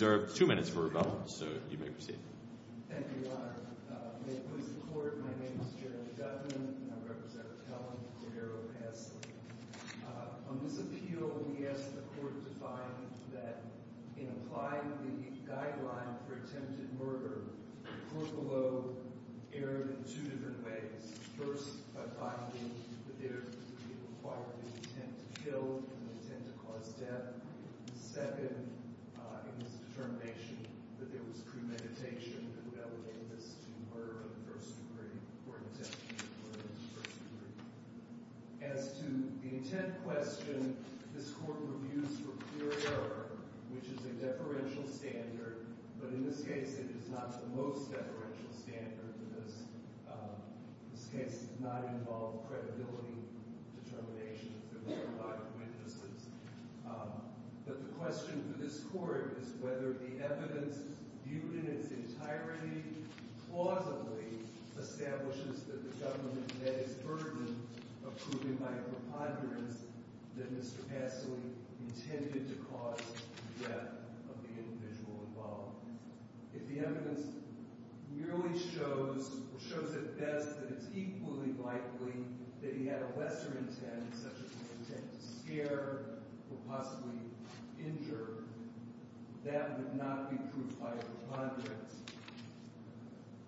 Thank you, Your Honor. May it please the Court, my name is Jeremy Gutman, and I'm Rep. Helland at Arrow v. Passley. On this appeal, we ask the Court to find that in applying the Guideline for Attempted Murder, Krupalu erred in two different ways. First, by finding that there was the required intent to kill and the intent to cause death. Second, it was a determination that there was premeditation and that would lead us to murder in the first degree or attempted murder in the first degree. As to the intent question, this Court reviews for clear error, which is a deferential standard, but in this case it is not the most deferential standard for this. This case did not involve credibility determinations. There were a lot of witnesses. But the question for this Court is whether the evidence viewed in its entirety plausibly establishes that the government met its burden of proving my preponderance that Mr. Passley intended to cause the death of the individual involved. If the evidence merely shows, or shows at best, that it's equally likely that he had a lesser intent, such as an intent to scare or possibly injure, that would not be proof of my preponderance.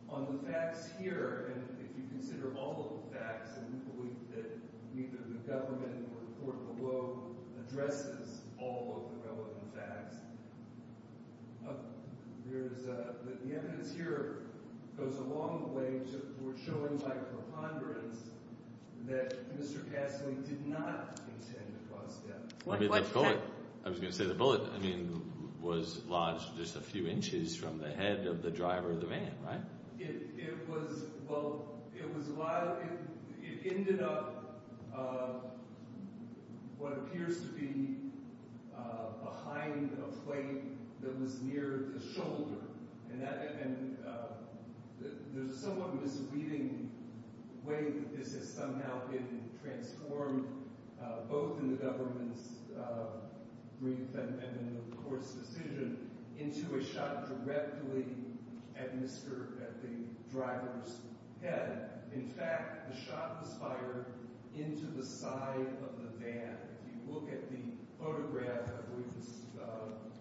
On the facts here, and if you consider all of the facts, and we believe that neither the government nor the Court below addresses all of the relevant facts, the evidence here goes along the way toward showing my preponderance that Mr. Passley did not intend to cause death. I was going to say the bullet was lodged just a few inches from the head of the driver of what appears to be behind a plate that was near the shoulder. There's a somewhat misleading way that this has somehow been transformed, both in the government's brief and in the Court's decision, into a shot directly at the driver's head. In fact, the shot was shot directly into the side of the van. If you look at the photograph, I believe this is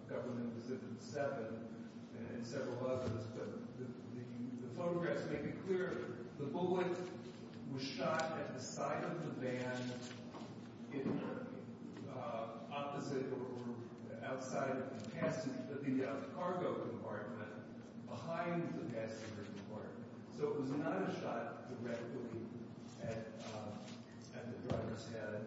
Government Decision 7, and several others, the photographs make it clear the bullet was shot at the side of the van in the opposite, or outside of the passenger, the cargo compartment behind the passenger compartment. So it was not a shot directly at the driver's head,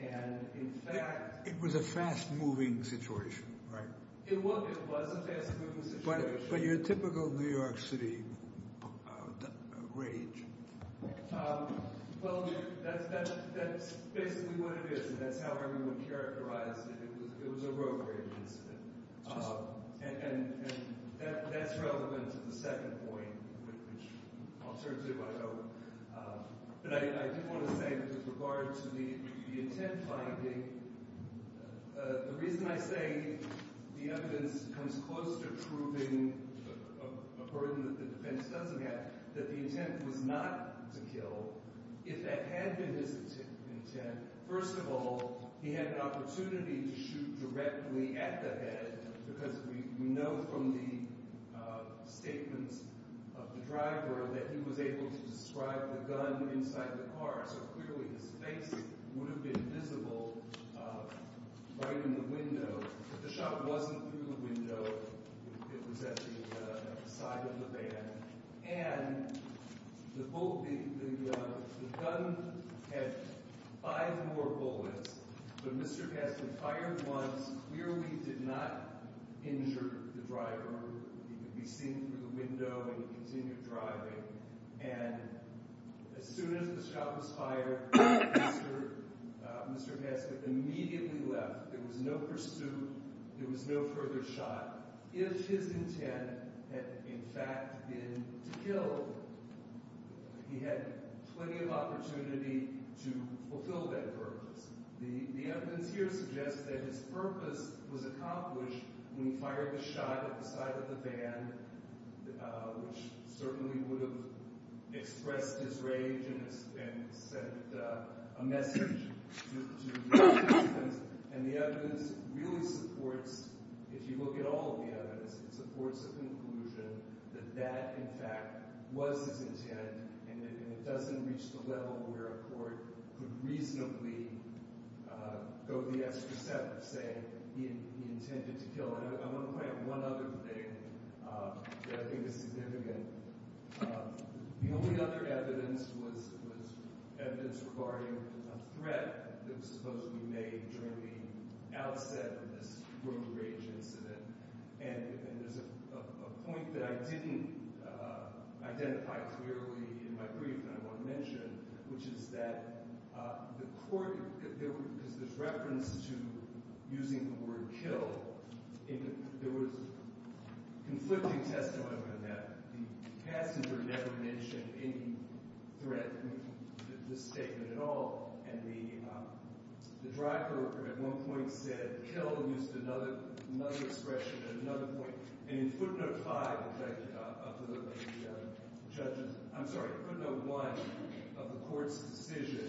and in fact... It was a fast-moving situation, right? It was a fast-moving situation. But your typical New York City rage? Well, that's basically what it is, and that's how everyone characterized it. It was a rogue And that's relevant to the second point, which I'll turn to, I hope. But I do want to say with regard to the intent finding, the reason I say the evidence comes close to proving a burden that the defense doesn't have, that the intent was not to kill, if that had been his intent. First of all, he had an opportunity to shoot directly at the head, because we know from the statements of the driver that he was able to describe the gun inside the car, so clearly his face would have been visible right in the window. But the shot wasn't through the window, it was at the side of the van. And the gun had five more bullets, but Mr. Gadsden fired once, clearly did not injure the driver. He could be seen through the window and continued driving. And as soon as the shot was fired, Mr. Gadsden immediately left. There was no pursuit, there was no further shot. If his intent had in fact been to kill, he had plenty of opportunity to fulfill that purpose. The evidence here suggests that his purpose was accomplished when he fired the shot at the side of the van, which certainly would have expressed his rage and sent a message to the defense. And the evidence really supports, if you look at all of the evidence, it supports the conclusion that that in fact was his intent, and it doesn't reach the level where a court could reasonably go the extra thing that I think is significant. The only other evidence was evidence regarding a threat that was supposedly made during the outset of this road rage incident. And there's a point that I didn't identify clearly in my brief that I want to mention, which is that the court, because there's reference to using the word kill, there was conflicting testimony on that. The passenger never mentioned any threat in this statement at all. And the driver at one point said, kill, and used another expression at another point. And in footnote five of the judge's, I'm sorry, footnote one of the court's decision,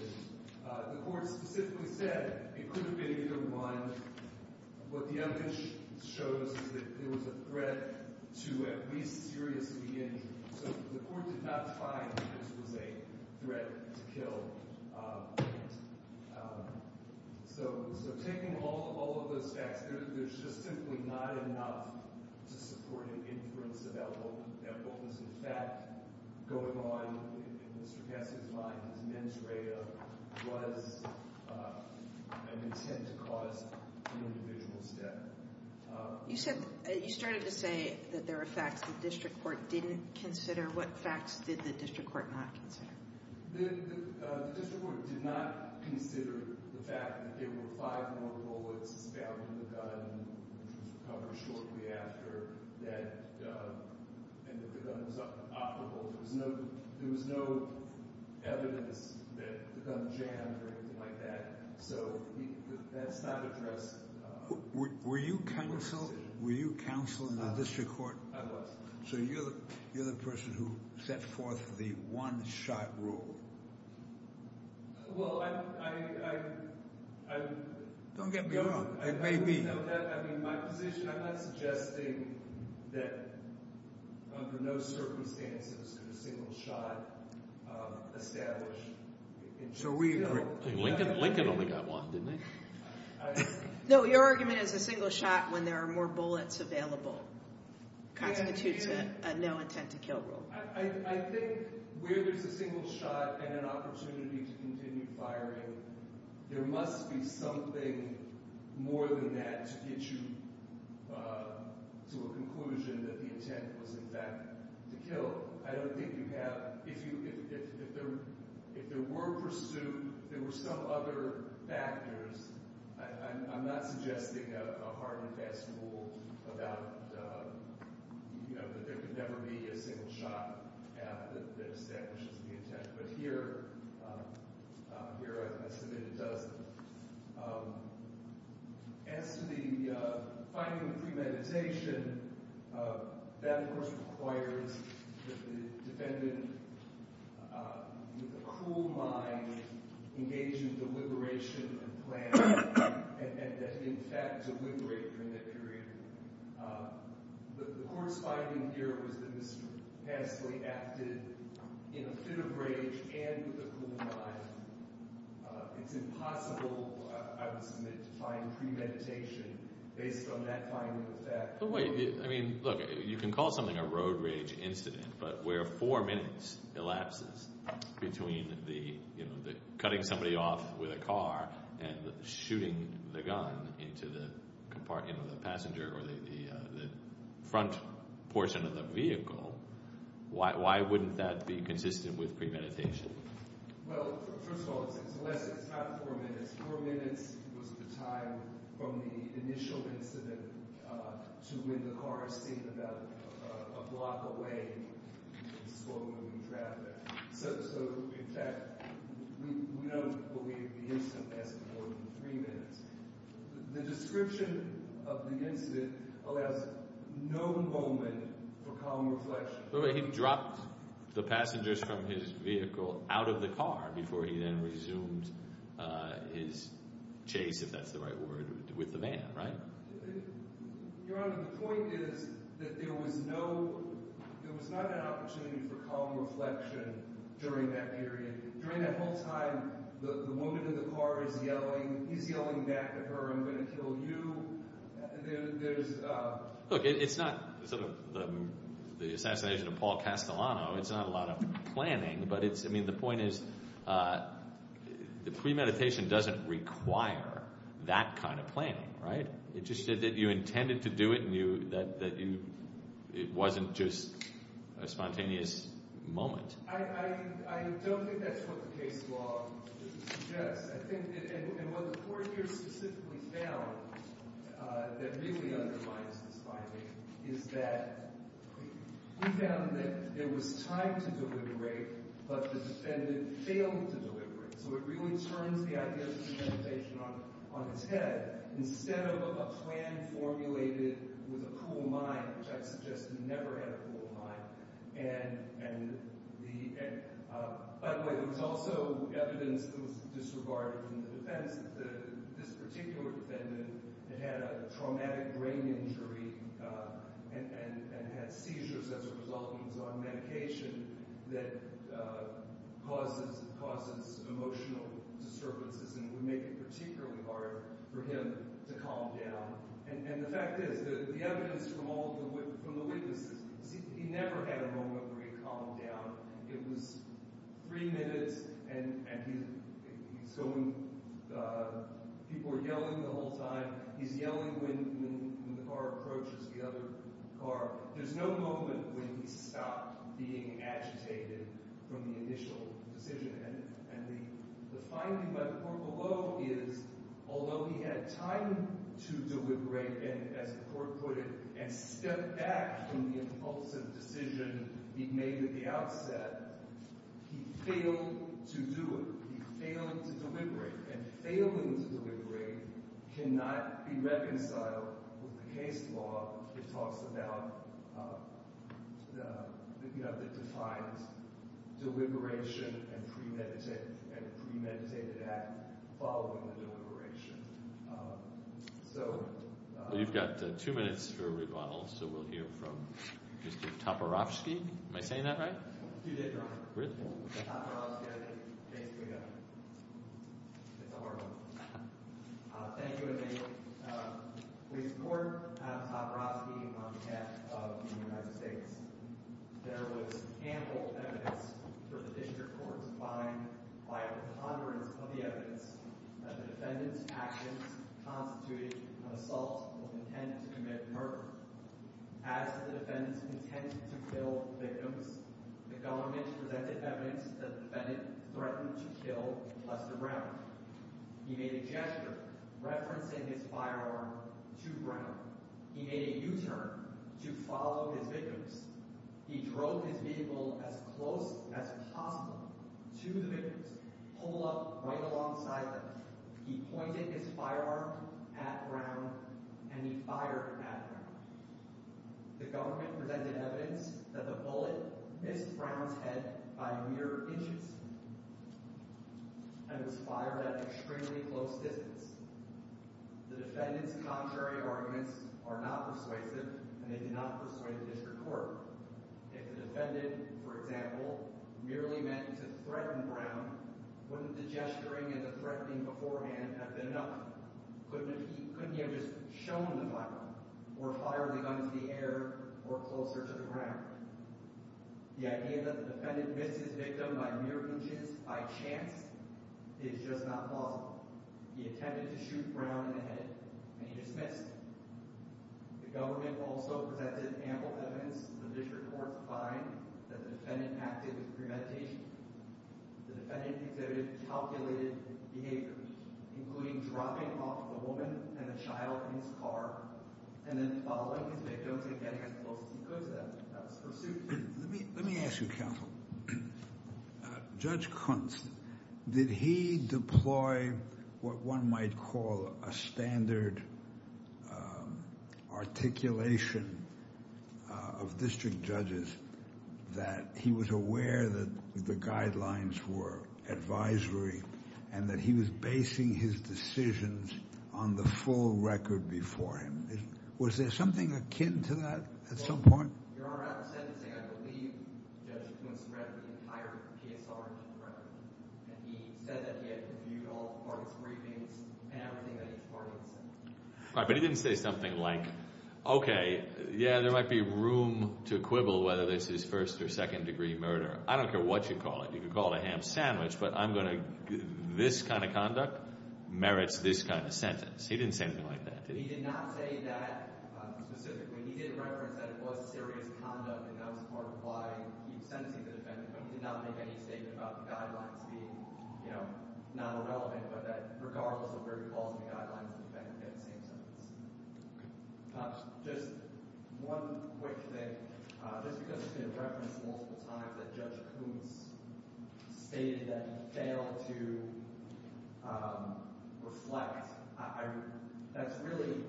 the court specifically said it could have been either one. What the evidence shows is that it was a threat to at least seriously injure. So the court did not find that this was a threat to kill. So taking all of those facts, there's just simply not enough to support an inference of that wholeness. In fact, going on in Mr. Gessie's mind, his mens rea was an intent to cause an individual's death. You said, you started to say that there were facts the district court didn't consider. What facts did the district court not consider? The district court did not consider the fact that there were five more bullets found in the gun, which was recovered shortly after that, and that the gun was operable. There was no evidence that the gun jammed or anything like that. So that's not addressed. Were you counsel? Were you counsel in the district court? I was. So you're the person who set forth the one-shot rule. Well, I... Don't get me wrong. It may be. I'm not suggesting that under no circumstances could a single shot establish... Lincoln only got one, didn't he? No, your argument is a single shot when there are more bullets available constitutes a no intent to kill rule. I think where there's a single shot and an opportunity to continue firing, there must be something more than that to get you to a conclusion that the intent was in fact to I'm not suggesting a hard and fast rule about that there could never be a single shot that establishes the intent, but here I submit it doesn't. As to the finding of premeditation, that, of course, requires the defendant with a cool mind engage in deliberation and plan and in fact deliberate during that period. The court's finding here was that Mr. Hansley acted in a fit of rage and with a cool mind. It's impossible, I would submit, to find premeditation based on that finding of fact. You can call something a road rage incident, but where four minutes elapses between cutting somebody off with a car and shooting the gun into the front portion of the vehicle, why wouldn't that be consistent with premeditation? Well, first of all, it's less than four minutes. Four minutes was the time from the initial incident to when the car is seen about a block away. So, in fact, we don't believe the incident lasted more than three minutes. The description of the incident allows no moment for calm reflection. He dropped the passengers from his vehicle out of the car before he then resumed his chase, if that's the right word, with the van, right? Your Honor, the point is that there was not an opportunity for calm reflection during that period. During that whole time, the woman in the car is yelling. He's yelling back at her, I'm going to kill you. Look, it's not the assassination of Paul Castellano. It's not a lot of planning, but the point is that premeditation doesn't require that kind of planning, right? It just said that you intended to do it and that it wasn't just a spontaneous moment. I don't think that's what the case law suggests. And what the court here specifically found that really undermines this finding is that he found that there was time to deliberate, but the defendant failed to deliberate. So it really turns the idea of premeditation on its head. Instead of a plan formulated with a cool mind, which I suggest he never had a cool mind. By the way, there was also evidence that was disregarded in the defense that this particular defendant had had a traumatic brain injury and had seizures as a result of his own medication that causes emotional disturbances and would make it particularly hard for him to calm down. And the fact is, the evidence from all the witnesses, he never had a moment where he calmed down. It was three minutes and people were yelling the whole time. He's yelling when the car approaches the other car. There's no moment when he stopped being agitated from the initial decision. And the finding by the court below is, although he had time to deliberate, and as the court put it, and stepped back from the impulsive decision he made at the outset, he failed to do it. He failed to deliberate. And failing to deliberate cannot be reconciled with the case law. It talks about, you know, it defines deliberation and premeditated act following the deliberation. So... You've got two minutes for a rebuttal, so we'll hear from Mr. Toporowski. Am I saying that right? You did wrong. Really? Toporowski, I think, basically got it. It's a hard one. Thank you and thank you. We support Adam Toporowski on behalf of the United States. There was ample evidence for the district court to find, by a preponderance of the evidence, that the defendant's actions constituted an assault with intent to commit murder. As the defendant intended to kill victims, the government presented evidence that the defendant threatened to kill Lester Brown. He made a gesture referencing his firearm to Brown. He made a U-turn to follow his victims. He drove his vehicle as close as possible to the victims, pull up right alongside them. He pointed his firearm at Brown and he fired at Brown. The government presented evidence that the bullet missed Brown's head by mere inches and was fired at an extremely close distance. The defendant's contrary arguments are not persuasive and they did not persuade the district court. If the defendant, for example, merely meant to threaten Brown, wouldn't the gesturing and the threatening beforehand have been enough? Couldn't he have just shown the firearm or fired the gun into the air or closer to the ground? The idea that the defendant missed his victim by mere inches, by chance, is just not plausible. He intended to shoot Brown in the head and he just missed. The government also presented ample evidence in the district court to find that the defendant acted with premeditation. The defendant exhibited calculated behavior, including dropping off the woman and the child in his car and then following his victims and getting as close as he could to them. That was pursued. Let me ask you, counsel. Judge Kuntz, did he deploy what one might call a standard articulation of district judges that he was aware that the guidelines were advisory and that he was basing his decisions on the full record before him? Was there something akin to that at some point? Your Honor, I'm not sentencing. I believe Judge Kuntz read the entire PSR and he said that he had reviewed all the parties' briefings and everything that each party had said. All right, but he didn't say something like, okay, yeah, there might be room to quibble whether this is first or second degree murder. I don't care what you call it. You could call it a ham sandwich, but this kind of conduct merits this kind of sentence. He didn't say anything like that, did he? He did not say that specifically. He did reference that it was serious conduct and that was part of why he sentencing the defendant, but he did not make any statement about the guidelines being non-relevant, but that regardless of where he falls in the guidelines, the defendant had the same sentence. Perhaps just one quick thing. Just because it's been referenced multiple times that Judge Kuntz stated that he failed to reflect, that's really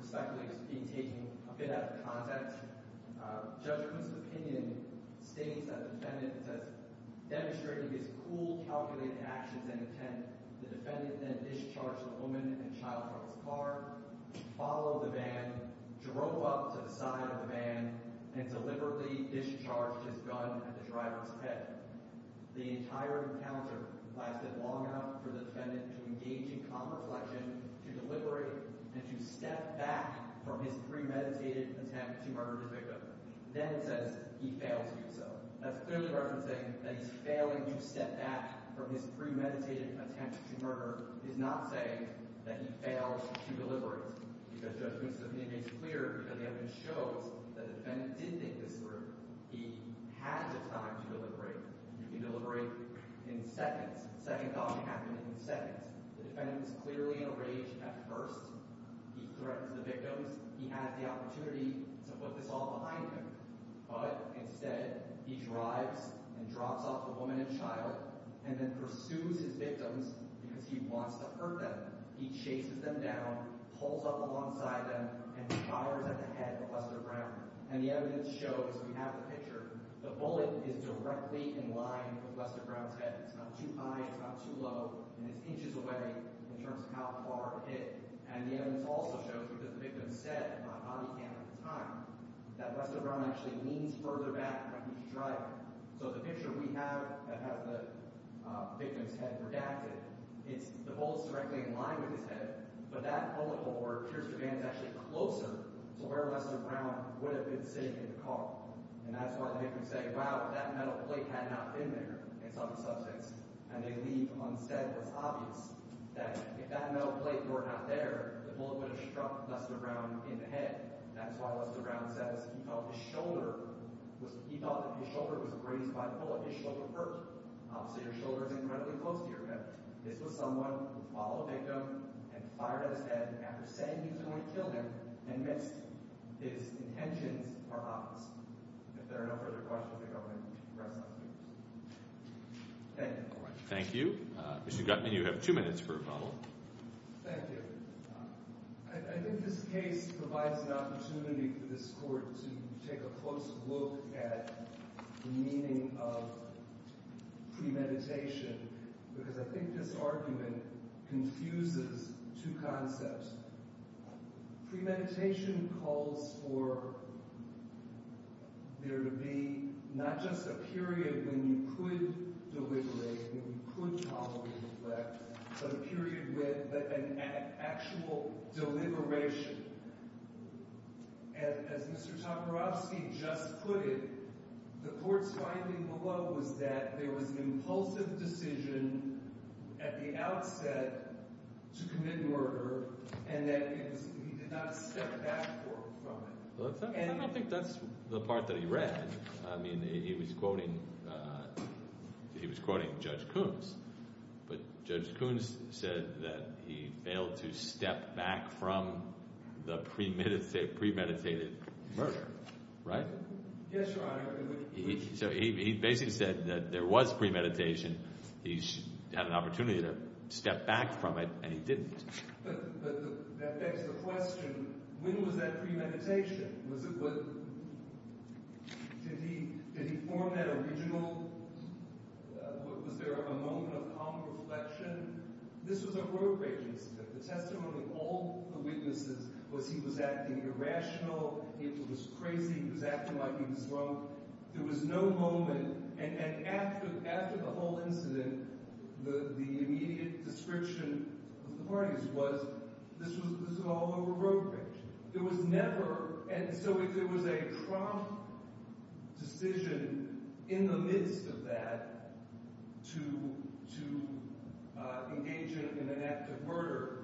respectfully being taken a bit out of context. Judge Kuntz's opinion states that the defendant demonstrated his cool, calculated actions and intent. The defendant then discharged the woman and child from his car, followed the van, drove up to the side of the van, and deliberately discharged his gun at the driver's head. The entire encounter lasted long enough for the defendant to engage in calm reflection, to deliberate, and to step back from his premeditated attempt to murder the victim. Then it says he failed to do so. That's clearly referencing that he's failing to step back from his premeditated attempt to murder. He's not saying that he failed to deliberate. Judge Kuntz's opinion is clear because the evidence shows that the defendant did think this through. He had the time to deliberate. You can deliberate in seconds. The second gun happened in seconds. The defendant is clearly in a rage at first. He threatens the victims. He has the opportunity to put this all behind him. But instead, he drives and drops off the woman and child and then pursues his victims because he wants to hurt them. He chases them down, pulls up alongside them, and fires at the head of Wester Brown. And the evidence shows, we have the picture, the bullet is directly in line with Wester Brown's head. It's not too high, it's not too low, and it's inches away in terms of how far it hit. And the evidence also shows, because the victim said on the camera at the time, that Wester Brown actually leans further back when he's driving. So the picture we have that has the victim's head redacted, the bullet is directly in line with his head, but that bullet hole where it pierces the van is actually closer to where Wester Brown would have been sitting in the car. And that's why the victims say, wow, that metal plate had not been there in some substance. And they leave unsaid. It's obvious that if that metal plate were not there, the bullet would have struck Wester Brown in the head. That's why Wester Brown says he thought his shoulder was – he thought that his shoulder was grazed by the bullet. His shoulder hurt. So your shoulder is incredibly close to your head. This was someone who followed a victim and fired at his head after saying he was going to kill him and missed. His intentions are obvious. If there are no further questions, I think I'm going to rest my case. Thank you. Thank you. Mr. Gutman, you have two minutes for a follow-up. Thank you. I think this case provides an opportunity for this court to take a closer look at the meaning of premeditation because I think this argument confuses two concepts. Premeditation calls for there to be not just a period when you could deliberate, when you could tolerate neglect, but a period with an actual deliberation. As Mr. Toporowski just put it, the court's finding below was that there was an impulsive decision at the outset to commit murder and that he did not step back from it. I don't think that's the part that he read. I mean, he was quoting Judge Coons, but Judge Coons said that he failed to step back from the premeditated murder, right? Yes, Your Honor. He basically said that there was premeditation. He had an opportunity to step back from it, and he didn't. But that begs the question, when was that premeditation? Did he form that original – was there a moment of calm reflection? This was a road-breaking incident. The testimony of all the witnesses was he was acting irrational, he was crazy, he was acting like he was drunk. There was no moment – and after the whole incident, the immediate description of the parties was this was all a road break. There was never – and so if there was a prompt decision in the midst of that to engage in an act of murder,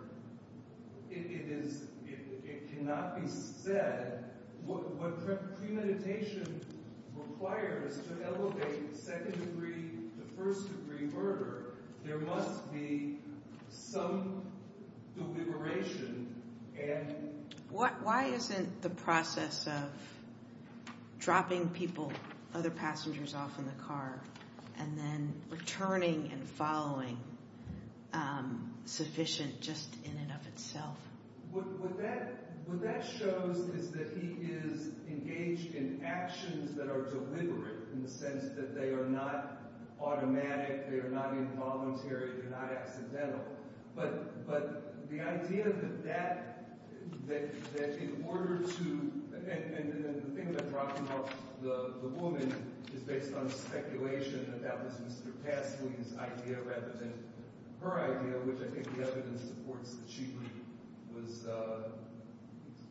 it cannot be said. What premeditation requires to elevate second-degree to first-degree murder, there must be some deliberation and – Why isn't the process of dropping people, other passengers, off in the car and then returning and following sufficient just in and of itself? What that shows is that he is engaged in actions that are deliberate in the sense that they are not automatic, they are not involuntary, they're not accidental. But the idea that that – that in order to – and the thing about dropping off the woman is based on speculation, that that was Mr. Tassily's idea rather than her idea, which I think the evidence supports that she was –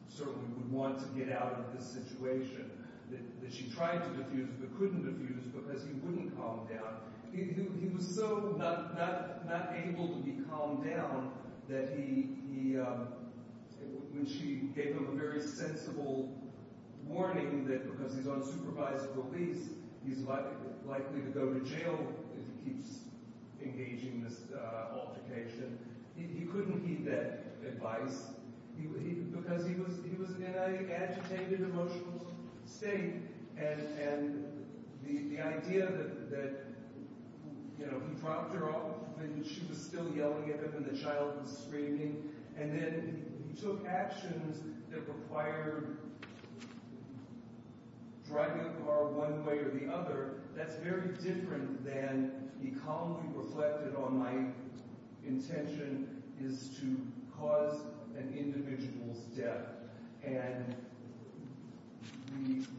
certainly would want to get out of this situation, that she tried to defuse but couldn't defuse because he wouldn't calm down. He was so not able to be calmed down that he – when she gave him a very sensible warning that because he's on supervised release, he's likely to go to jail if he keeps engaging this altercation, he couldn't heed that advice because he was in an agitated, emotional state, and the idea that he dropped her off and she was still yelling at him and the child was screaming, and then he took actions that required driving the car one way or the other, that's very different than he calmly reflected on my intention is to cause an individual's death. And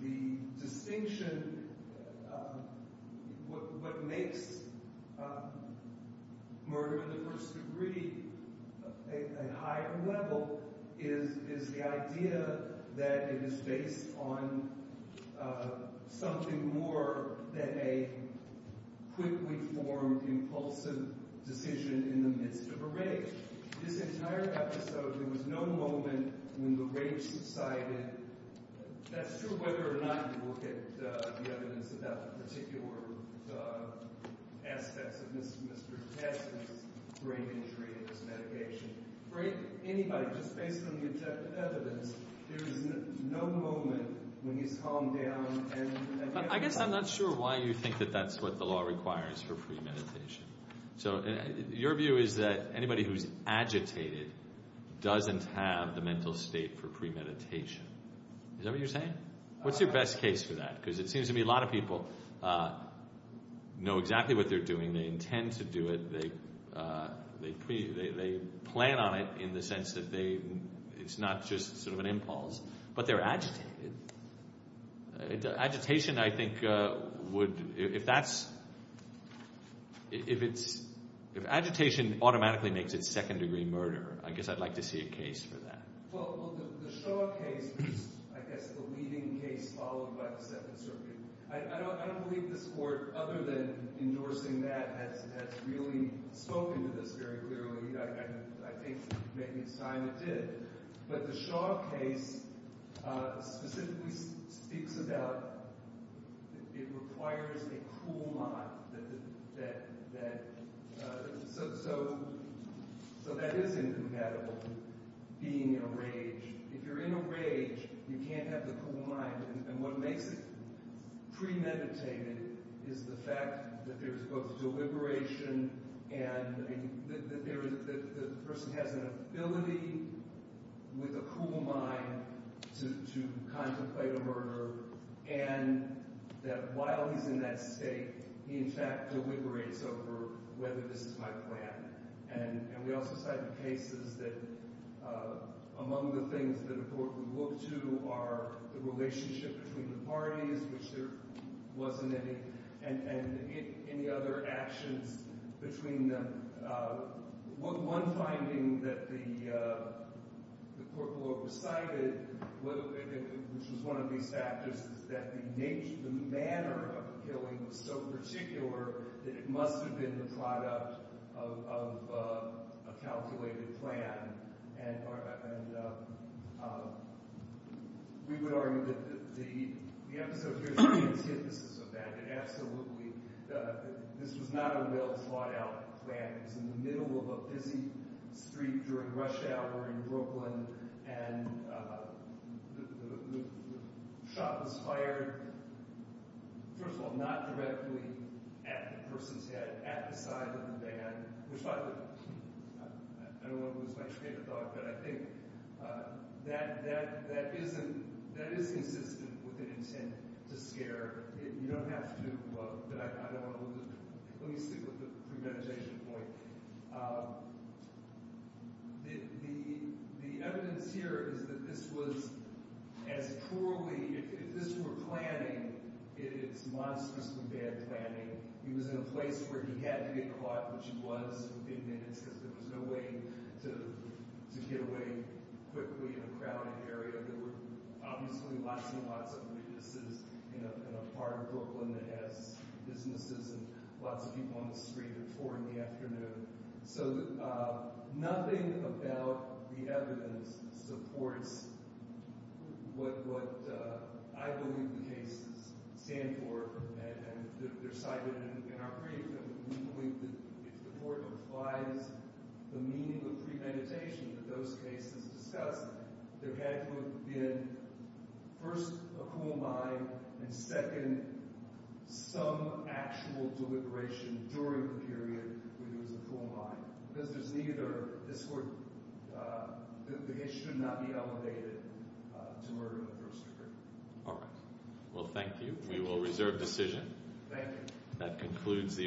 the distinction – what makes murder to the first degree a higher level is the idea that it is based on something more than a quickly formed, impulsive decision in the midst of a rape. This entire episode, there was no moment when the rape subsided. That's true whether or not you look at the evidence about the particular aspects of Mr. Tassily's brain injury and his medication. For anybody, just based on the evidence, there is no moment when he's calmed down and – I guess I'm not sure why you think that that's what the law requires for premeditation. So your view is that anybody who's agitated doesn't have the mental state for premeditation. Is that what you're saying? What's your best case for that? Because it seems to me a lot of people know exactly what they're doing. They intend to do it. They plan on it in the sense that they – it's not just sort of an impulse. But they're agitated. Agitation, I think, would – if that's – if agitation automatically makes it second-degree murder, I guess I'd like to see a case for that. Well, the Shaw case was, I guess, the leading case followed by the Second Circuit. I don't believe this court, other than endorsing that, has really spoken to this very clearly. I think maybe Simon did. But the Shaw case specifically speaks about it requires a cool mind that – so that is incompatible with being enraged. If you're in a rage, you can't have the cool mind. And what makes it premeditated is the fact that there's both deliberation and – that the person has an ability with a cool mind to contemplate a murder and that while he's in that state, he in fact deliberates over whether this is my plan. And we also cited cases that among the things that a court would look to are the relationship between the parties, which there wasn't any, and any other actions between them. One finding that the court will oversight it, which was one of these factors, is that the nature – the manner of the killing was so particular that it must have been the product of a calculated plan. And we would argue that the episode here is the antithesis of that. It absolutely – this was not a well-thought-out plan. It was in the middle of a busy street during rush hour in Brooklyn, and the shot was fired, first of all, not directly at the person's head, at the side of the van. I don't want to lose my train of thought, but I think that isn't – that is consistent with an intent to scare. You don't have to – but I don't want to lose – let me stick with the premeditation point. The evidence here is that this was as poorly – if this were planning, it is monstrously bad planning. He was in a place where he had to get caught, which he was within minutes because there was no way to get away quickly in a crowded area. There were obviously lots and lots of witnesses in a part of Brooklyn that has businesses and lots of people on the street at 4 in the afternoon. So nothing about the evidence supports what I believe the cases stand for. They're cited in our brief, and we believe that if the court applies the meaning of premeditation that those cases discuss, there had to have been, first, a cool mind, and second, some actual deliberation during the period when there was a cool mind. Because there's neither – this court – the case should not be elevated to murder of the first degree. All right. Well, thank you. We will reserve decision. Thank you. That concludes the –